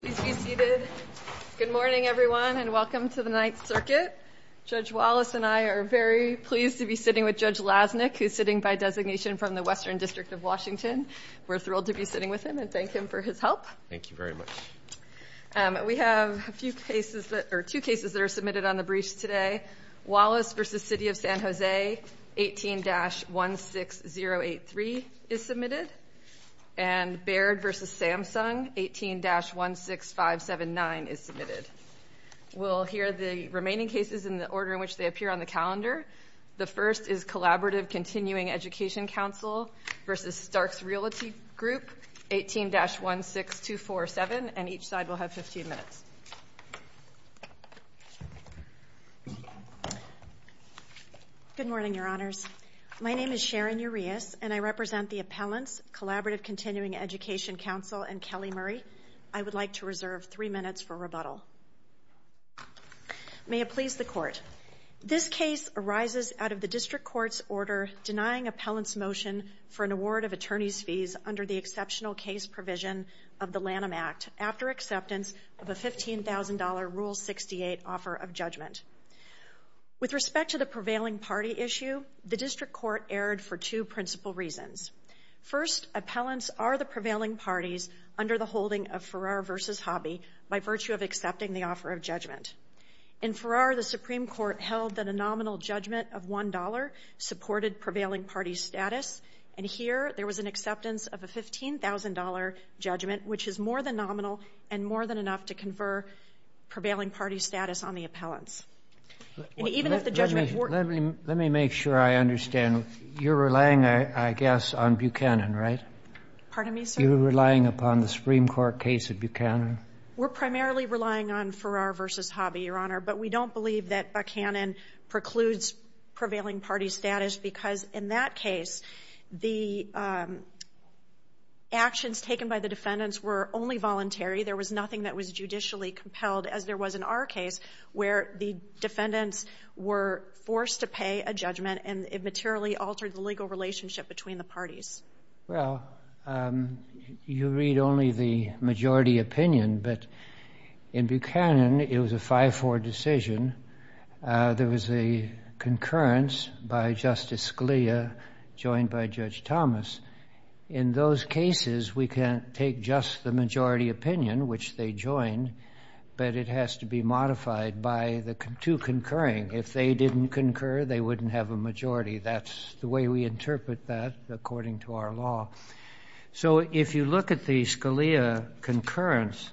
Please be seated. Good morning, everyone, and welcome to the Ninth Circuit. Judge Wallace and I are very pleased to be sitting with Judge Lasnik, who's sitting by designation from the Western District of Washington. We're thrilled to be sitting with him and thank him for his help. Thank you very much. We have a few cases that are two cases that are submitted on the briefs today. Wallace v. City of San Jose, 18-16083 is submitted. And Baird v. Samsung, 18-16579 is submitted. We'll hear the remaining cases in the order in which they appear on the calendar. The first is Collaborative Continuing Education Council v. Starks Realty Group, 18-16247, and each side will have 15 minutes. Good morning, Your Honors. My name is Sharon Urias, and I represent the appellants, Collaborative Continuing Education Council, and Kelly Murray. I would like to reserve three minutes for rebuttal. May it please the Court. This case arises out of the district court's order denying appellants motion for an award of attorney's fees under the exceptional case provision of the Lanham Act after acceptance of a $15,000 Rule 68 offer of judgment. With respect to the prevailing party issue, the district court erred for two principal reasons. First, appellants are the prevailing parties under the holding of Farrar v. Hobby by virtue of accepting the offer of judgment. In Farrar, the Supreme Court held that a nominal judgment of $1 supported prevailing party status. And here, there was an acceptance of a $15,000 judgment, which is more than nominal and more than enough to confer prevailing party status on the appellants. And even if the judgment were... Let me make sure I understand. You're relying, I guess, on Buchanan, right? Pardon me, sir? You're relying upon the Supreme Court case of Buchanan? We're primarily relying on Farrar v. Hobby, Your Honor. But we don't believe that Buchanan precludes prevailing party status because in that case, the actions taken by the defendants were only voluntary. There was nothing that was judicially compelled, as there was in our case, where the defendants were forced to pay a judgment and it materially altered the legal relationship between the parties. Well, you read only the majority opinion, but in Buchanan, it was a 5-4 decision. There was a concurrence by Justice Scalia joined by Judge Thomas. In those cases, we can't take just the majority opinion, which they joined, but it has to be modified by the two concurring. If they didn't concur, they wouldn't have a majority. That's the way we interpret that, according to our law. So if you look at the Scalia concurrence,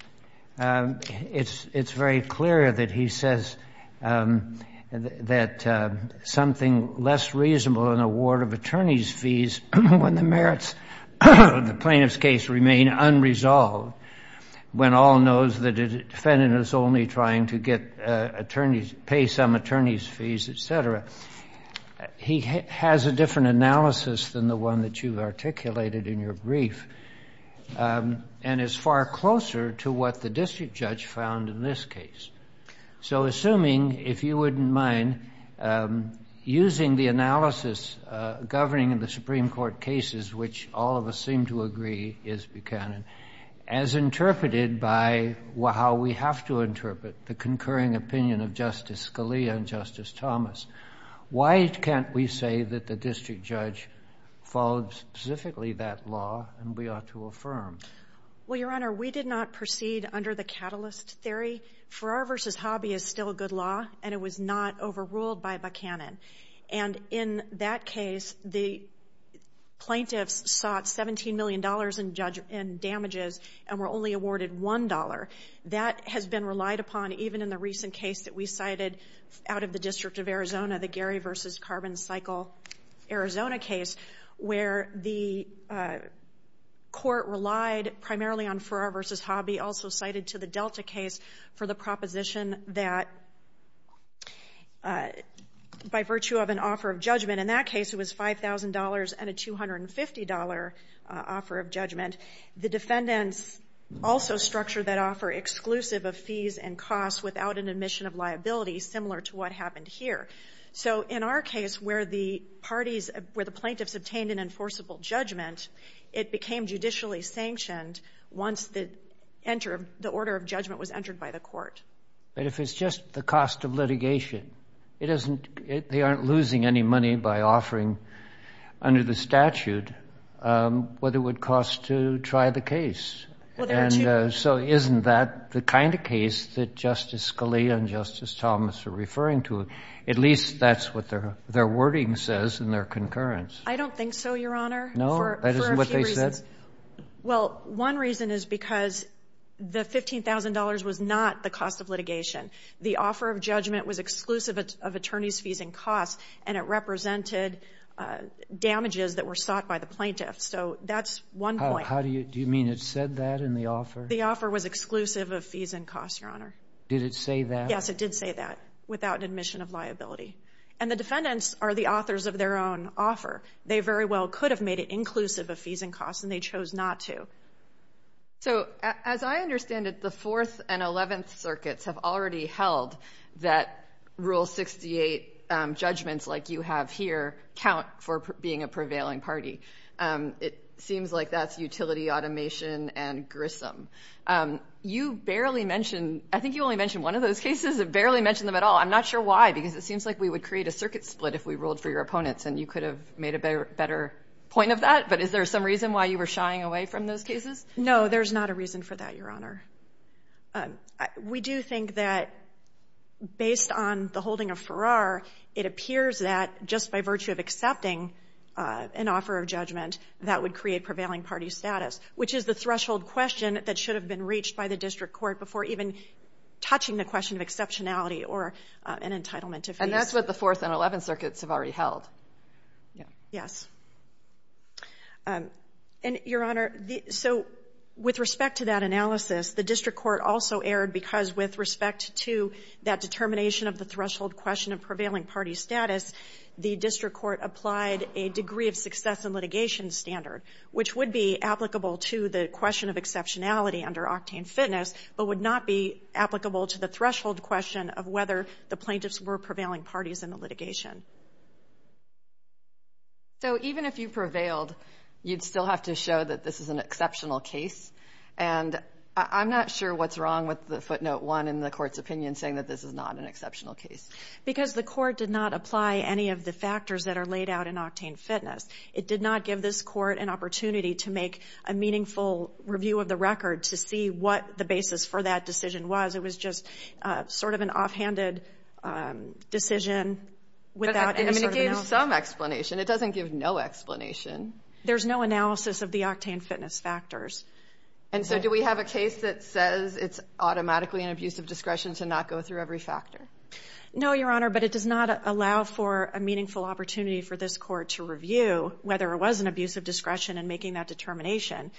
it's very clear that he says that something less reasonable, an award of attorney's fees when the merits of the plaintiff's case remain unresolved, when all knows that a defendant is only trying to get attorneys, pay some attorney's fees, et cetera. He has a different analysis than the one that you've articulated in your brief and is far closer to what the district judge found in this case. So assuming, if you wouldn't mind, using the analysis governing the Supreme Court cases, which all of us seem to agree is Buchanan, as interpreted by how we have to interpret the concurring opinion of Justice Scalia and Justice Thomas, why can't we say that the district judge followed specifically that law and we ought to affirm? Well, Your Honor, we did not proceed under the catalyst theory. Farrar v. Hobby is still a good law, and it was not overruled by Buchanan. And in that case, the damages and were only awarded $1. That has been relied upon even in the recent case that we cited out of the District of Arizona, the Gary v. Carbon Cycle, Arizona case, where the court relied primarily on Farrar v. Hobby, also cited to the Delta case for the proposition that by virtue of an offer of judgment in that case, it was $5,000 and a $250 offer of judgment. The defendants also structure that offer exclusive of fees and costs without an admission of liability, similar to what happened here. So in our case, where the parties, where the plaintiffs obtained an enforceable judgment, it became judicially sanctioned once the order of judgment was entered by the court. But if it's just the cost of litigation, they aren't losing any money by offering under the statute what it would cost to try the case. And so isn't that the kind of case that Justice Scalia and Justice Thomas are referring to? At least that's what their, their wording says in their concurrence. I don't think so, Your Honor. No, that isn't what they said. Well, one reason is because the $15,000 was not the cost of litigation. The offer of judgment was exclusive of attorneys' fees and costs, and it represented damages that were sought by the plaintiffs. So that's one point. How do you, do you mean it said that in the offer? The offer was exclusive of fees and costs, Your Honor. Did it say that? Yes, it did say that, without admission of liability. And the defendants are the authors of their own offer. They very well could have made it inclusive of fees and costs, and they chose not to. So as I understand it, the Fourth and Eleventh Circuits have already held that Rule 68 judgments like you have here count for being a prevailing party. It seems like that's utility automation and grisom. You barely mentioned, I think you only mentioned one of those cases, and barely mentioned them at all. I'm not sure why, because it seems like we would create a circuit split if we ruled for your opponents, and you could have made a better point of that. But is there some reason why you were shying away from those cases? No, there's not a reason for that, Your Honor. We do think that based on the holding of Farrar, it appears that just by virtue of accepting an offer of judgment, that would create prevailing party status, which is the threshold question that should have been reached by the district court before even touching the question of exceptionality or an entitlement to fees. And that's what the Fourth and Eleventh Circuits have already held. Yes. And, Your Honor, so with respect to that analysis, the district court also erred because with respect to that determination of the threshold question of prevailing party status, the district court applied a degree of success in litigation standard, which would be applicable to the question of exceptionality under Octane Fitness, but would not be applicable to the threshold question of whether the plaintiffs were prevailing parties in the litigation. So even if you prevailed, you'd still have to show that this is an exceptional case. And I'm not sure what's wrong with the footnote one in the court's opinion saying that this is not an exceptional case. Because the court did not apply any of the factors that are laid out in Octane Fitness. It did not give this court an opportunity to make a meaningful review of the record to see what the basis for that decision was. It gave some explanation. It doesn't give no explanation. There's no analysis of the Octane Fitness factors. And so do we have a case that says it's automatically an abuse of discretion to not go through every factor? No, Your Honor, but it does not allow for a meaningful opportunity for this court to review whether it was an abuse of discretion in making that determination.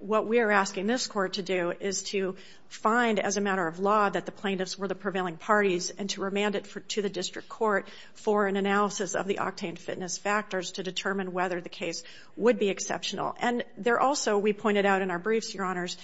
What we are asking this court to do is to find, as a matter of law, that the plaintiffs were the prevailing parties and to remand it to the district court for an analysis of the Octane Fitness factors to determine whether the case would be exceptional. And there also, we pointed out in our briefs, Your Honors,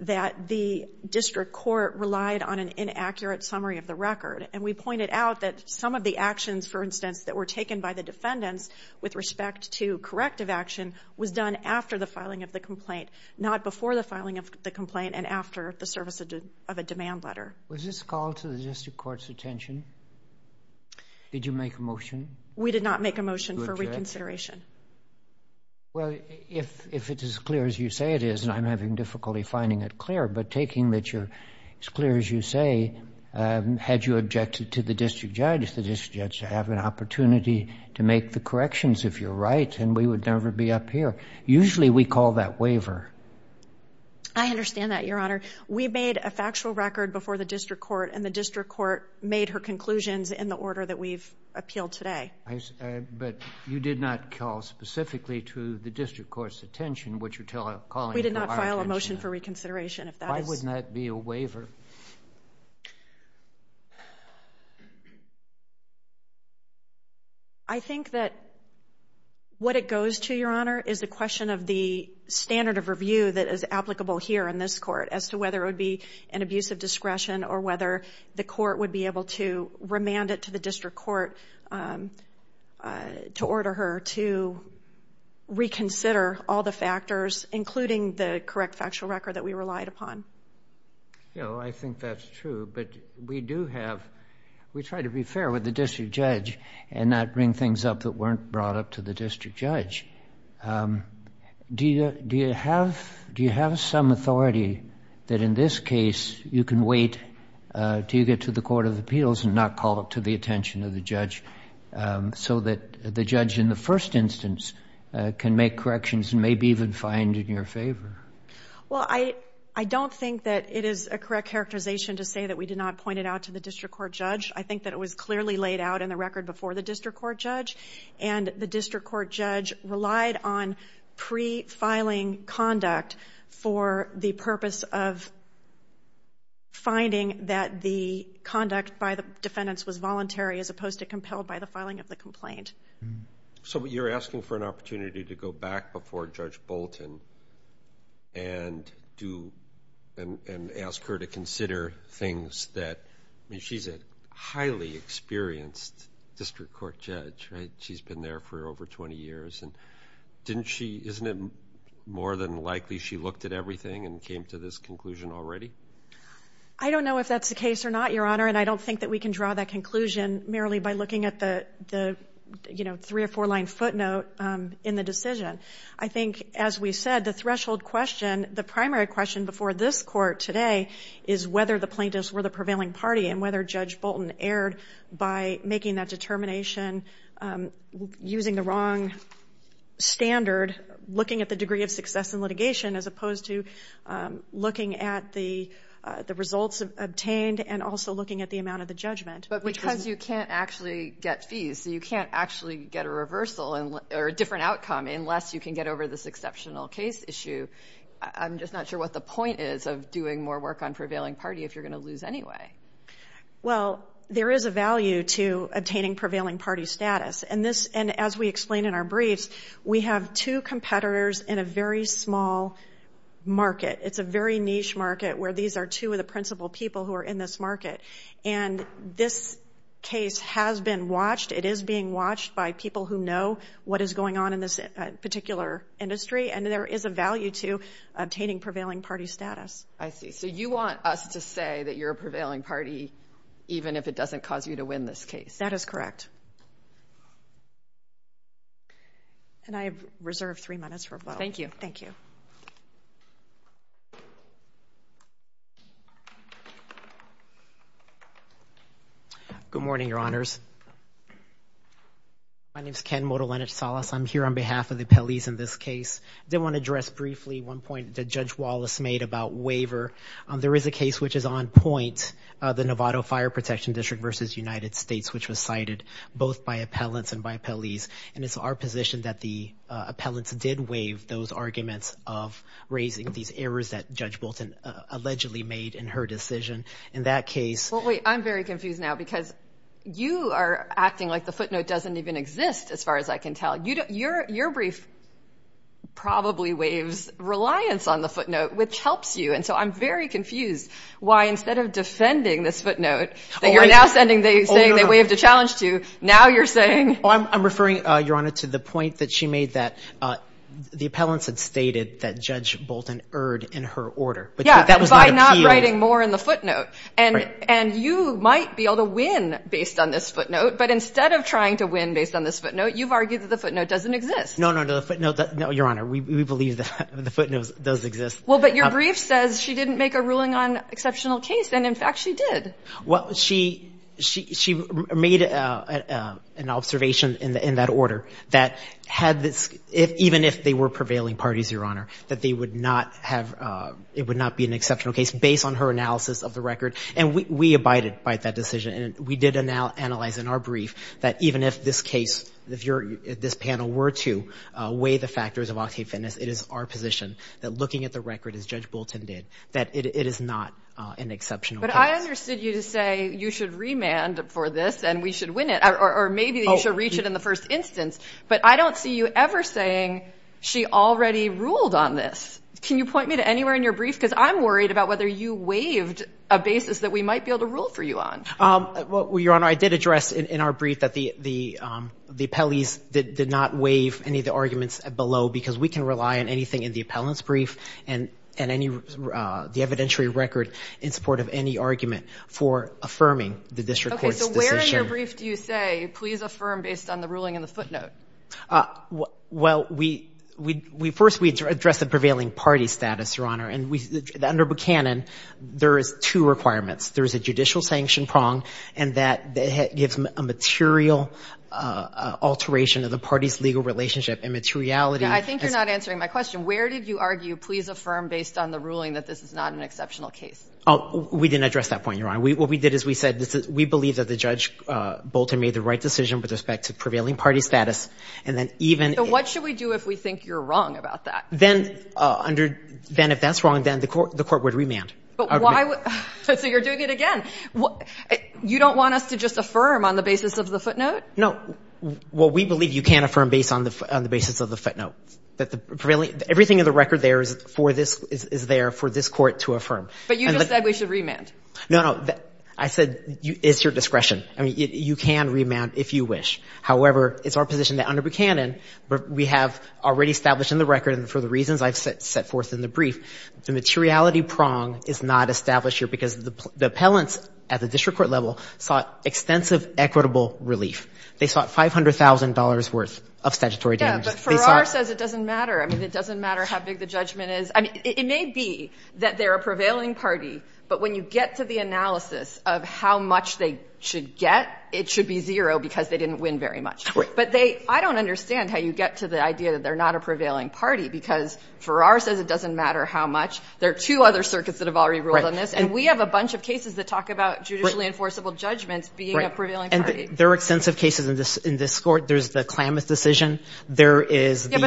that the district court relied on an inaccurate summary of the record. And we pointed out that some of the actions, for instance, that were taken by the defendants with respect to corrective action was done after the filing of the complaint, not before the filing of the complaint and after the service of a demand letter. Was this called to the district court's attention? Did you make a motion? We did not make a motion for reconsideration. Well, if it's as clear as you say it is, and I'm having difficulty finding it clear, but taking that you're as clear as you say, had you objected to the district judge, the district judge would have an opportunity to make the corrections if you're right, and we would never be up here. Usually, we call that waiver. I understand that, Your Honor. We made a factual record before the district court, and the district court made her conclusions in the order that we've appealed today. But you did not call specifically to the district court's attention what you're calling to our attention. We did not file a motion for reconsideration. Why wouldn't that be a waiver? I think that what it goes to, Your Honor, is the question of the standard of review that is applicable here in this court as to whether it would be an abuse of discretion or whether the court would be able to remand it to the district court to order her to reconsider all the factors, including the correct factual record that we relied upon. I think that's true, but we do have, we try to be fair with the district judge and not bring things up that weren't brought up to the district judge. Do you have some authority that in this case you can wait until you get to the court of appeals and not call it to the attention of the judge so that the judge in the first instance can make corrections and maybe even find in your favor? Well, I don't think that it is a correct characterization to say that we did not point it out to the district court judge. I think that it was clearly laid out in the record before the district court judge, and the district court judge relied on pre-filing conduct for the purpose of finding that the conduct by the defendants was voluntary as opposed to compelled by the filing of the complaint. So you're asking for an opportunity to go back before Judge Bolton and ask her to consider things that, I mean, she's a highly experienced district court judge, right? She's been there for over 20 years, and didn't she, isn't it more than likely she looked at everything and came to this conclusion already? I don't know if that's the case or not, Your Honor, and I don't think that we can draw that conclusion merely by looking at the, you know, three or four line footnote in the decision. I think, as we said, the threshold question, the primary question before this court today is whether the plaintiffs were the prevailing party and whether Judge Bolton erred by making that determination, using the wrong standard, looking at the degree of success in litigation as opposed to looking at the results obtained and also looking at the amount of the judgment. But because you can't actually get fees, you can't actually get a reversal or a different outcome unless you can get over this exceptional case issue. I'm just not sure what the point is of doing more work on prevailing party if you're going to lose anyway. Well, there is a value to obtaining prevailing party status. And this, and as we explained in our briefs, we have two competitors in a very small market. It's a very niche market where these are two of the principal people who are in this market. And this case has been watched. It is being watched by people who know what is going on in this particular industry. And there is a value to obtaining prevailing party status. I see. So you want us to say that you're a prevailing party even if it doesn't cause you to win this case. That is correct. And I have reserved three minutes for both. Thank you. Good morning, Your Honors. My name is Ken Modolenich-Salas. I'm here on behalf of the appellees in this case. I did want to address briefly one point that Judge Wallace made about waiver. There is a case which is on point, the Novato Fire Protection District v. United States, which was cited both by appellants and by appellees. And it's our position that the appellants did waive those arguments of raising these errors that Judge Bolton allegedly made in her decision. In that case – Well, wait, I'm very confused now because you are acting like the footnote doesn't even exist, as far as I can tell. Your brief probably waives reliance on the footnote, which helps you. And so I'm very confused why instead of defending this footnote that you're now saying they waived a challenge to, now you're saying – I'm referring, Your Honor, to the point that she made that the appellants had stated that Judge Bolton erred in her order. Yeah, by not writing more in the footnote. And you might be able to win based on this footnote, but instead of trying to win based on this footnote, you've argued that the footnote doesn't exist. No, no, no. Your Honor, we believe that the footnote does exist. Well, but your brief says she didn't make a ruling on exceptional case, and, in fact, she did. Well, she made an observation in that order that had this – even if they were prevailing parties, Your Honor, that they would not have – it would not be an exceptional case based on her analysis of the record. And we abided by that decision. And we did analyze in our brief that even if this case, if this panel were to weigh the factors of octet fitness, it is our position that looking at the record, as Judge Bolton did, that it is not an exceptional case. But I understood you to say you should remand for this, and we should win it. Or maybe you should reach it in the first instance. But I don't see you ever saying she already ruled on this. Can you point me to anywhere in your brief? Because I'm worried about whether you waived a basis that we might be able to rule for you on. Well, Your Honor, I did address in our brief that the appellees did not waive any of the arguments below because we can rely on anything in the appellant's brief and the evidentiary record in support of any argument for affirming the district court's decision. Okay. So where in your brief do you say, please affirm based on the ruling in the footnote? Well, first we addressed the prevailing party status, Your Honor. And under Buchanan, there is two requirements. There is a judicial sanction prong, and that gives a material alteration of the party's legal relationship and materiality. Yeah, I think you're not answering my question. Where did you argue, please affirm based on the ruling, that this is not an exceptional case? We didn't address that point, Your Honor. What we did is we said we believe that the Judge Bolton made the right decision with respect to prevailing party status. So what should we do if we think you're wrong about that? Then if that's wrong, then the court would remand. So you're doing it again. You don't want us to just affirm on the basis of the footnote? No. Well, we believe you can affirm based on the basis of the footnote. Everything in the record there is there for this court to affirm. But you just said we should remand. No, no. I said it's your discretion. I mean, you can remand if you wish. However, it's our position that under Buchanan, we have already established in the record, and for the reasons I've set forth in the brief, the materiality prong is not established here because the appellants at the district court level sought extensive equitable relief. They sought $500,000 worth of statutory damages. Yeah, but Farrar says it doesn't matter. I mean, it doesn't matter how big the judgment is. I mean, it may be that they're a prevailing party, but when you get to the analysis of how much they should get, it should be zero because they didn't win very much. But I don't understand how you get to the idea that they're not a prevailing party because Farrar says it doesn't matter how much. There are two other circuits that have already ruled on this, and we have a bunch of cases that talk about judicially enforceable judgments being a prevailing party. And there are extensive cases in this court. There's the Klamath decision. Yeah, but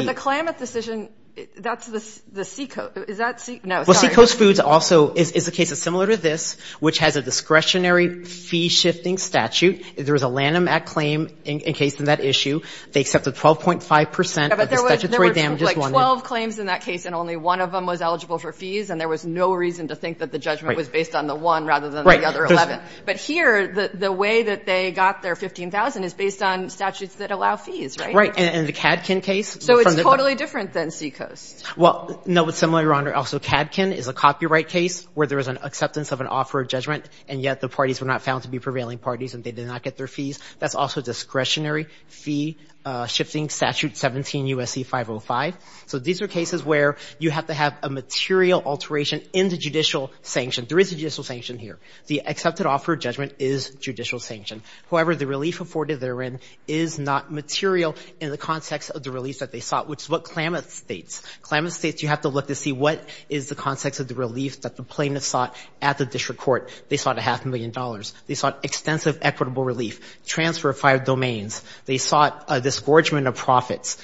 the Klamath decision, that's the Seacoast. Is that Seacoast? No, sorry. Well, Seacoast Foods also is a case similar to this, which has a discretionary fee-shifting statute. There was a Lanham Act claim encased in that issue. They accepted 12.5 percent of the statutory damages. But there were, like, 12 claims in that case, and only one of them was eligible for fees, and there was no reason to think that the judgment was based on the one rather than the other 11. Right. But here, the way that they got their 15,000 is based on statutes that allow fees, right? Right. And the Kadkin case. So it's totally different than Seacoast. Well, no, it's similar, Your Honor. Also, Kadkin is a copyright case where there is an acceptance of an offer of judgment, and yet the parties were not found to be prevailing parties and they did not get their fees. That's also discretionary fee-shifting statute 17 U.S.C. 505. So these are cases where you have to have a material alteration in the judicial sanction. There is a judicial sanction here. The accepted offer of judgment is judicial sanction. However, the relief afforded therein is not material in the context of the relief that they sought, which is what Klamath states. Klamath states you have to look to see what is the context of the relief that the parties sought. They sought a half a million dollars. They sought extensive equitable relief, transfer of five domains. They sought a disgorgement of profits.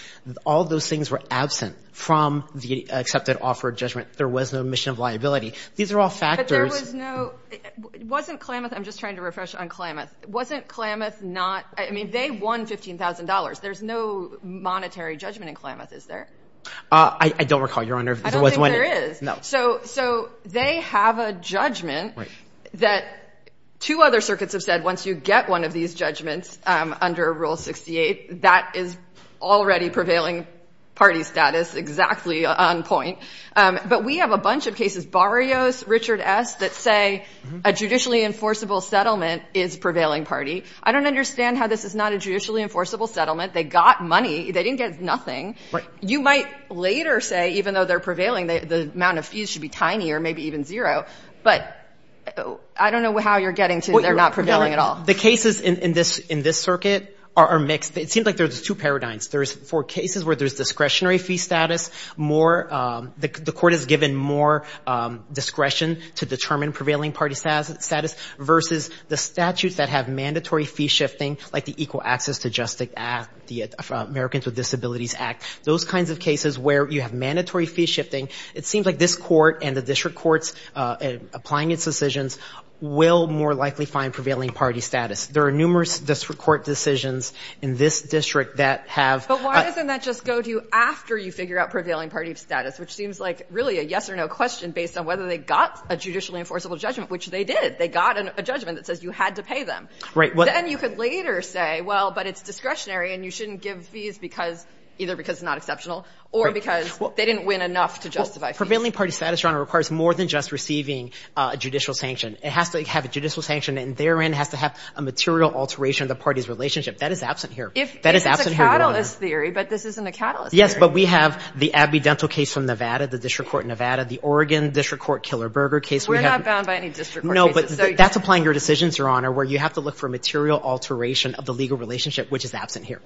All those things were absent from the accepted offer of judgment. There was no mission of liability. These are all factors. But there was no – wasn't Klamath – I'm just trying to refresh on Klamath. Wasn't Klamath not – I mean, they won $15,000. There's no monetary judgment in Klamath, is there? I don't recall, Your Honor. I don't think there is. No. So they have a judgment that two other circuits have said once you get one of these judgments under Rule 68, that is already prevailing party status exactly on point. But we have a bunch of cases, Barrios, Richard S., that say a judicially enforceable settlement is prevailing party. I don't understand how this is not a judicially enforceable settlement. They got money. They didn't get nothing. Right. You might later say even though they're prevailing, the amount of fees should be tiny or maybe even zero. But I don't know how you're getting to they're not prevailing at all. The cases in this circuit are mixed. It seems like there's two paradigms. There's – for cases where there's discretionary fee status, more – the court has given more discretion to determine prevailing party status versus the statutes that have mandatory fee shifting like the Equal Access to Justice Act, the Americans with Disabilities Act. Those kinds of cases where you have mandatory fee shifting, it seems like this court and the district courts applying its decisions will more likely find prevailing party status. There are numerous district court decisions in this district that have – But why doesn't that just go to you after you figure out prevailing party status, which seems like really a yes or no question based on whether they got a judicially enforceable judgment, which they did. They got a judgment that says you had to pay them. Right. And you could later say, well, but it's discretionary and you shouldn't give fees because – either because it's not exceptional or because they didn't win enough to justify fees. Prevailing party status, Your Honor, requires more than just receiving a judicial sanction. It has to have a judicial sanction and therein has to have a material alteration of the party's relationship. That is absent here. That is absent here, Your Honor. It's a catalyst theory, but this isn't a catalyst theory. Yes, but we have the Abidental case from Nevada, the district court in Nevada, the Oregon district court Killer Burger case. We're not bound by any district court cases. No, but that's applying your decisions, Your Honor, where you have to look for material alteration of the legal relationship, which is absent here.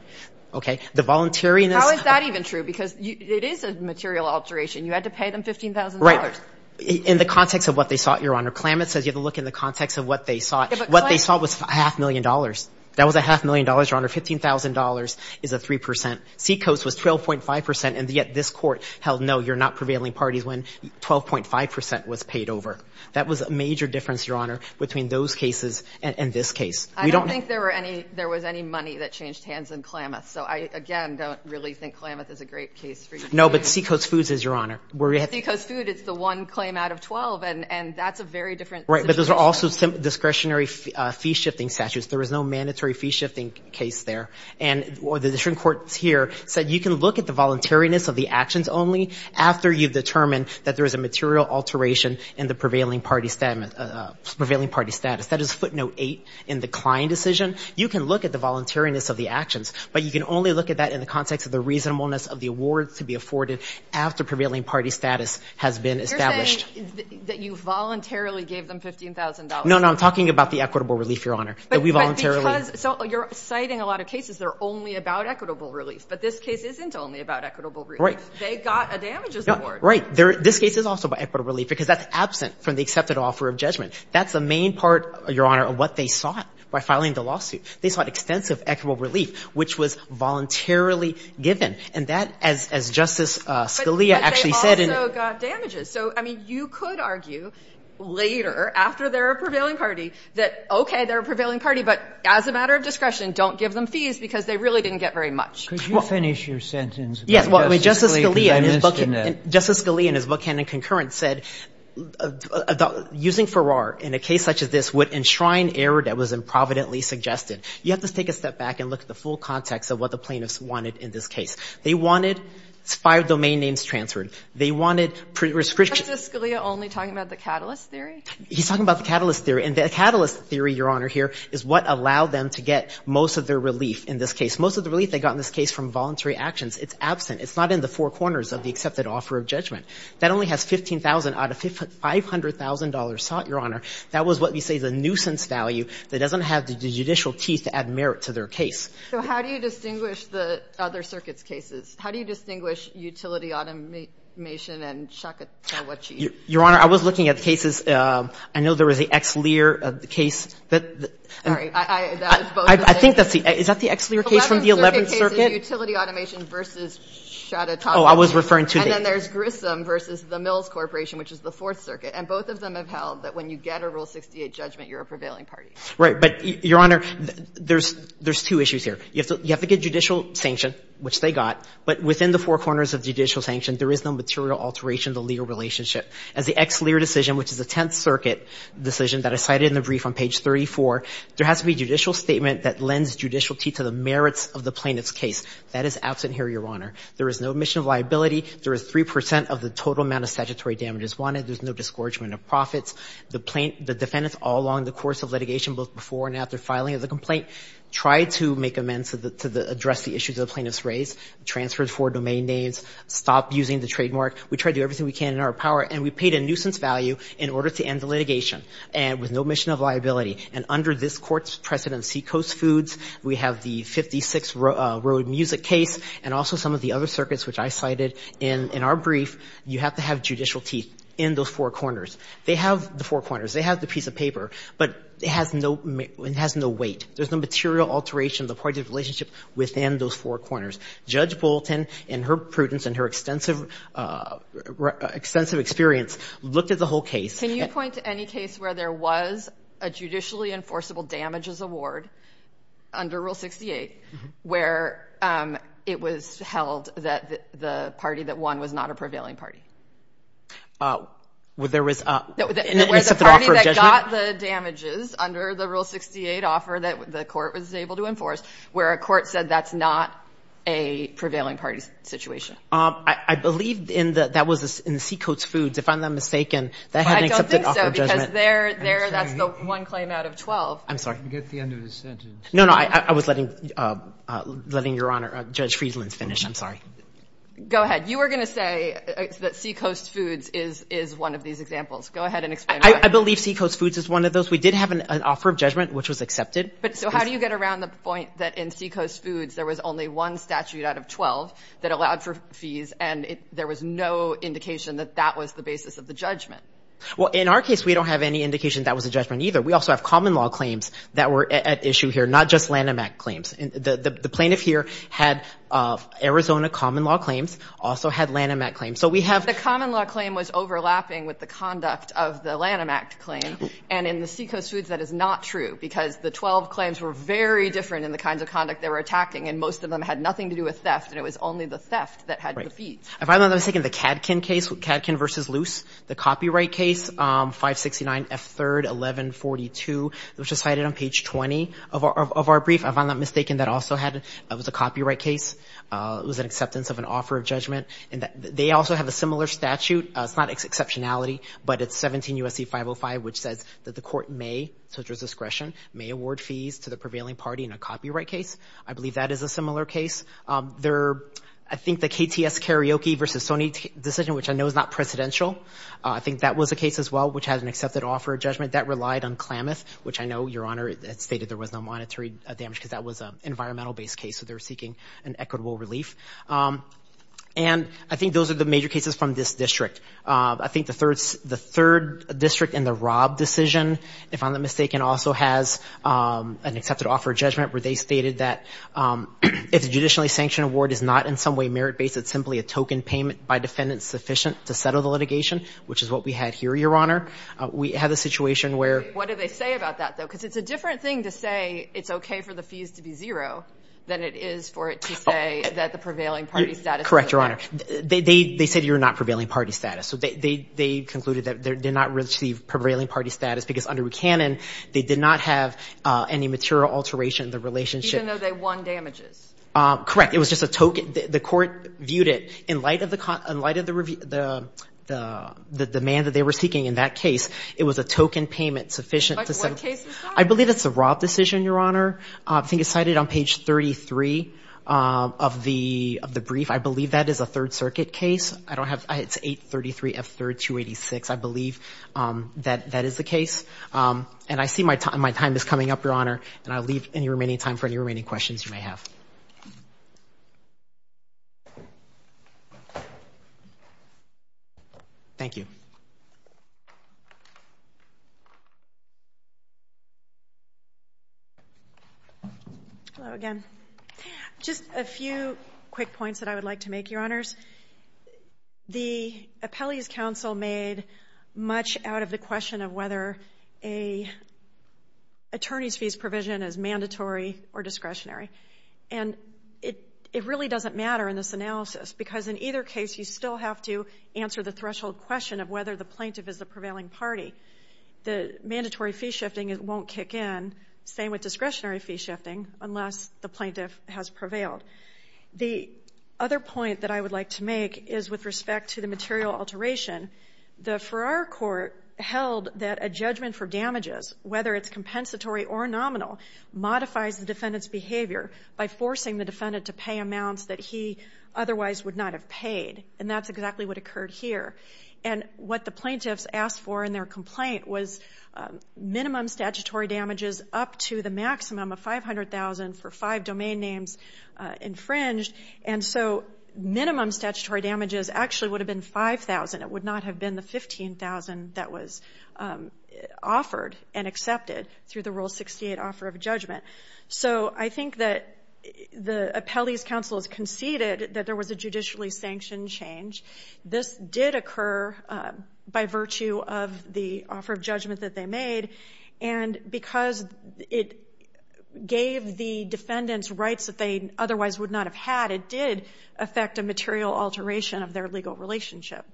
Okay? The volunteering is – How is that even true? Because it is a material alteration. You had to pay them $15,000. Right. In the context of what they sought, Your Honor, Klamath says you have to look in the context of what they sought. What they sought was half a million dollars. That was a half a million dollars, Your Honor. $15,000 is a 3 percent. Seacoast was 12.5 percent, and yet this Court held, no, you're not prevailing parties when 12.5 percent was paid over. That was a major difference, Your Honor, between those cases and this case. I don't think there was any money that changed hands in Klamath. So I, again, don't really think Klamath is a great case for you. No, but Seacoast Foods is, Your Honor. Seacoast Foods, it's the one claim out of 12, and that's a very different situation. Right, but those are also discretionary fee-shifting statutes. There was no mandatory fee-shifting case there. And the district court here said you can look at the voluntariness of the actions only after you've determined that there is a material alteration in the prevailing party status. That is footnote 8 in the Klein decision. You can look at the voluntariness of the actions, but you can only look at that in the context of the reasonableness of the awards to be afforded after prevailing party status has been established. You're saying that you voluntarily gave them $15,000. No, no, I'm talking about the equitable relief, Your Honor, that we voluntarily But because, so you're citing a lot of cases that are only about equitable relief, but this case isn't only about equitable relief. Right. They got a damages award. Right. This case is also about equitable relief because that's absent from the accepted offer of judgment. That's the main part, Your Honor, of what they sought by filing the lawsuit. They sought extensive equitable relief, which was voluntarily given. And that, as Justice Scalia actually said in the But they also got damages. So, I mean, you could argue later, after they're a prevailing party, that, okay, they're a prevailing party, but as a matter of discretion, don't give them fees because they really didn't get very much. Could you finish your sentence? Yes. Well, Justice Scalia in his book, Justice Scalia in his book, Canon Concurrent, said using Farrar in a case such as this would enshrine error that was improvidently suggested. You have to take a step back and look at the full context of what the plaintiffs wanted in this case. They wanted five domain names transferred. They wanted prescription. Is Justice Scalia only talking about the catalyst theory? He's talking about the catalyst theory. And the catalyst theory, Your Honor, here is what allowed them to get most of their relief in this case. Most of the relief they got in this case from voluntary actions. It's absent. It's not in the four corners of the accepted offer of judgment. That only has $15,000 out of $500,000 sought, Your Honor. That was what we say is a nuisance value that doesn't have the judicial teeth to add merit to their case. So how do you distinguish the other circuits' cases? How do you distinguish utility automation and Shaka Tawachi? Your Honor, I was looking at the cases. I know there was the Ex Lear case. Sorry, that was both of them. I think that's the – is that the Ex Lear case from the 11th Circuit? The 11th Circuit case is utility automation versus Shaka Tawachi. Oh, I was referring to the – And then there's Grissom versus the Mills Corporation, which is the 4th Circuit. And both of them have held that when you get a Rule 68 judgment, you're a prevailing party. Right. But, Your Honor, there's two issues here. You have to get judicial sanction, which they got. But within the four corners of judicial sanction, there is no material alteration of the legal relationship. As the Ex Lear decision, which is a 10th Circuit decision that I cited in the brief on page 34, there has to be a judicial statement that lends judicialty to the merits of the plaintiff's case. That is absent here, Your Honor. There is no omission of liability. There is 3 percent of the total amount of statutory damages wanted. There's no disgorgement of profits. The plaint – the defendants all along the course of litigation, both before and after filing the complaint, tried to make amends to the – to address the issues the plaintiffs raised, transferred four domain names, stopped using the trademark. We tried to do everything we can in our power, and we paid a nuisance value in order to end the litigation. And with no omission of liability. And under this Court's precedent, Seacoast Foods, we have the 56th Road Music Case, and also some of the other circuits which I cited in our brief, you have to have judicial teeth in those four corners. They have the four corners. They have the piece of paper. But it has no weight. There's no material alteration of the plaintiff's relationship within those four corners. Judge Bolton, in her prudence and her extensive – extensive experience, looked at the whole case. Can you point to any case where there was a judicially enforceable damages award under Rule 68, where it was held that the party that won was not a prevailing party? Where there was – No, where the party that got the damages under the Rule 68 offer that the court was able to enforce, where a court said that's not a prevailing party's situation. I believe in the – that was in Seacoast Foods, if I'm not mistaken. That had an accepted offer of judgment. I don't think so, because there – there, that's the one claim out of 12. I'm sorry. Get to the end of his sentence. No, no. I was letting – letting Your Honor – Judge Friesland finish. I'm sorry. Go ahead. You were going to say that Seacoast Foods is – is one of these examples. Go ahead and explain why. I believe Seacoast Foods is one of those. We did have an offer of judgment, which was accepted. But so how do you get around the point that in Seacoast Foods, there was only one statute out of 12 that allowed for fees, and there was no indication that that was the basis of the judgment? Well, in our case, we don't have any indication that was a judgment either. We also have common law claims that were at issue here, not just Lanham Act claims. The plaintiff here had Arizona common law claims, also had Lanham Act claims. So we have – The common law claim was overlapping with the conduct of the Lanham Act claim. And in the Seacoast Foods, that is not true, because the 12 claims were very different in the kinds of conduct they were attacking, and most of them had nothing to do with theft, and it was only the theft that had the fees. Right. If I'm not mistaken, the KADKIN case, KADKIN v. Luce, the copyright case, 569F3-1142, which was cited on page 20 of our brief, if I'm not mistaken, that also had – that was a copyright case. It was an acceptance of an offer of judgment. And they also have a similar statute. It's not exceptionality, but it's 17 U.S.C. 505, which says that the court may, to its discretion, may award fees to the prevailing party in a copyright case. I believe that is a similar case. I think the KTS-Karaoke v. Sony decision, which I know is not presidential, I think that was a case as well, which has an accepted offer of judgment. That relied on Klamath, which I know, Your Honor, it stated there was no monetary damage because that was an environmental-based case, so they were seeking an equitable relief. And I think those are the major cases from this district. I think the third district in the Robb decision, if I'm not mistaken, also has an accepted offer of judgment where they stated that if the judicially sanctioned award is not in some way merit-based, it's simply a token payment by defendants sufficient to settle the litigation, which is what we had here, Your Honor. We had a situation where – What did they say about that, though? Because it's a different thing to say it's okay for the fees to be zero than it is for it to say that the prevailing party status – Correct, Your Honor. They said you're not prevailing party status. So they concluded that they did not receive prevailing party status because, under canon, they did not have any material alteration in the relationship – Correct. It was just a token. The court viewed it in light of the demand that they were seeking in that case. It was a token payment sufficient to settle – Like what case is that? I believe it's the Robb decision, Your Honor. I think it's cited on page 33 of the brief. I believe that is a Third Circuit case. I don't have – it's 833F3-286. I believe that that is the case. And I see my time is coming up, Your Honor, and I'll leave any remaining time for any remaining questions you may have. Thank you. Hello again. Just a few quick points that I would like to make, Your Honors. The appellee's counsel made much out of the question of whether an attorney's fees provision is mandatory or discretionary. And it really doesn't matter in this analysis because in either case you still have to answer the threshold question of whether the plaintiff is the prevailing party. The mandatory fee shifting won't kick in, same with discretionary fee shifting, unless the plaintiff has prevailed. The other point that I would like to make is with respect to the material alteration. The Farrar Court held that a judgment for damages, whether it's compensatory or nominal, modifies the defendant's behavior by forcing the defendant to pay amounts that he otherwise would not have paid. And that's exactly what occurred here. And what the plaintiffs asked for in their complaint was minimum statutory damages up to the maximum of $500,000 for five domain names infringed. And so minimum statutory damages actually would have been $5,000. It would not have been the $15,000 that was offered and accepted through the Rule 68 offer of judgment. So I think that the appellee's counsel has conceded that there was a judicially sanctioned change. This did occur by virtue of the offer of judgment that they made. And because it gave the defendants rights that they otherwise would not have had, it did affect a material alteration of their legal relationship.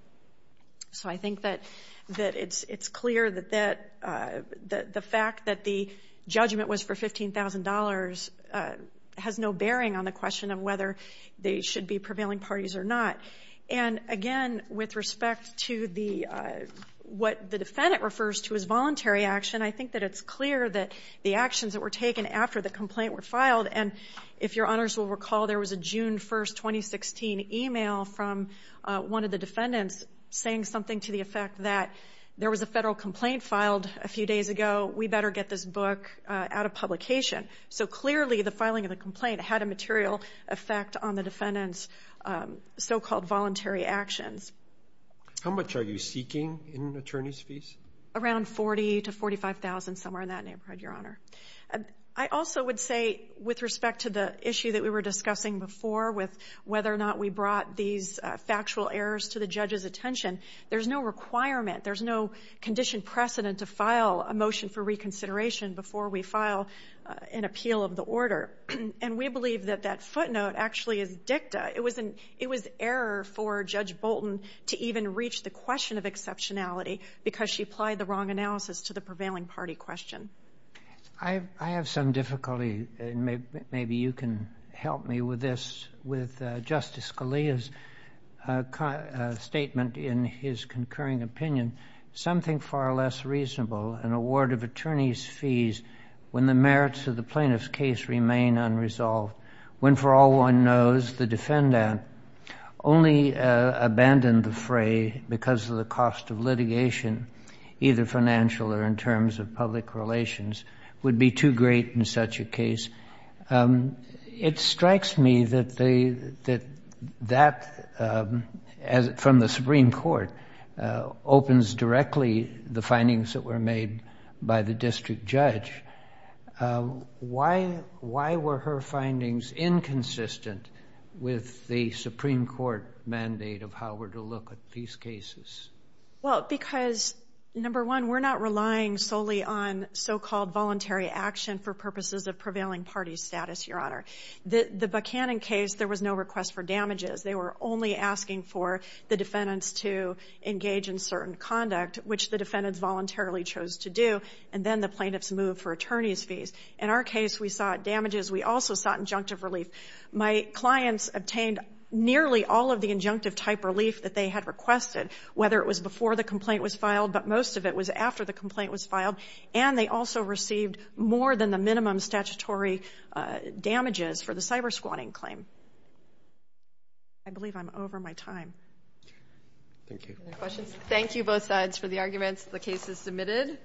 So I think that it's clear that the fact that the judgment was for $15,000 has no bearing on the question of whether they should be prevailing parties or not. And again, with respect to what the defendant refers to as voluntary action, I think that it's clear that the actions that were taken after the complaint were filed. And if your honors will recall, there was a June 1, 2016 email from one of the defendants saying something to the effect that there was a federal complaint filed a few days ago. We better get this book out of publication. So clearly the filing of the complaint had a material effect on the defendant's so-called voluntary actions. How much are you seeking in attorney's fees? Around $40,000 to $45,000, somewhere in that neighborhood, Your Honor. I also would say with respect to the issue that we were discussing before with whether or not we brought these factual errors to the judge's attention, there's no requirement, there's no condition precedent to file a motion for reconsideration before we file an appeal of the order. And we believe that that footnote actually is dicta. It was error for Judge Bolton to even reach the question of exceptionality because she applied the wrong analysis to the prevailing party question. I have some difficulty, and maybe you can help me with this, with Justice Scalia's statement in his concurring opinion. Something far less reasonable, an award of attorney's fees when the merits of the plaintiff's case remain unresolved, when, for all one knows, the defendant only abandoned the fray because of the cost of litigation, either financial or in terms of public relations, would be too great in such a case. It strikes me that that, from the Supreme Court, opens directly the findings that were made by the district judge. Why were her findings inconsistent with the Supreme Court mandate of how we're to look at these cases? Well, because, number one, we're not relying solely on so-called voluntary action for purposes of prevailing party status, Your Honor. The Buchanan case, there was no request for damages. They were only asking for the defendants to engage in certain conduct, which the defendants voluntarily chose to do, and then the plaintiffs moved for attorney's fees. In our case, we sought damages. We also sought injunctive relief. My clients obtained nearly all of the injunctive-type relief that they had requested, whether it was before the complaint was filed, but most of it was after the complaint was filed, and they also received more than the minimum statutory damages for the cyber-squatting claim. I believe I'm over my time. Any more questions? Thank you, both sides, for the arguments. The case is submitted.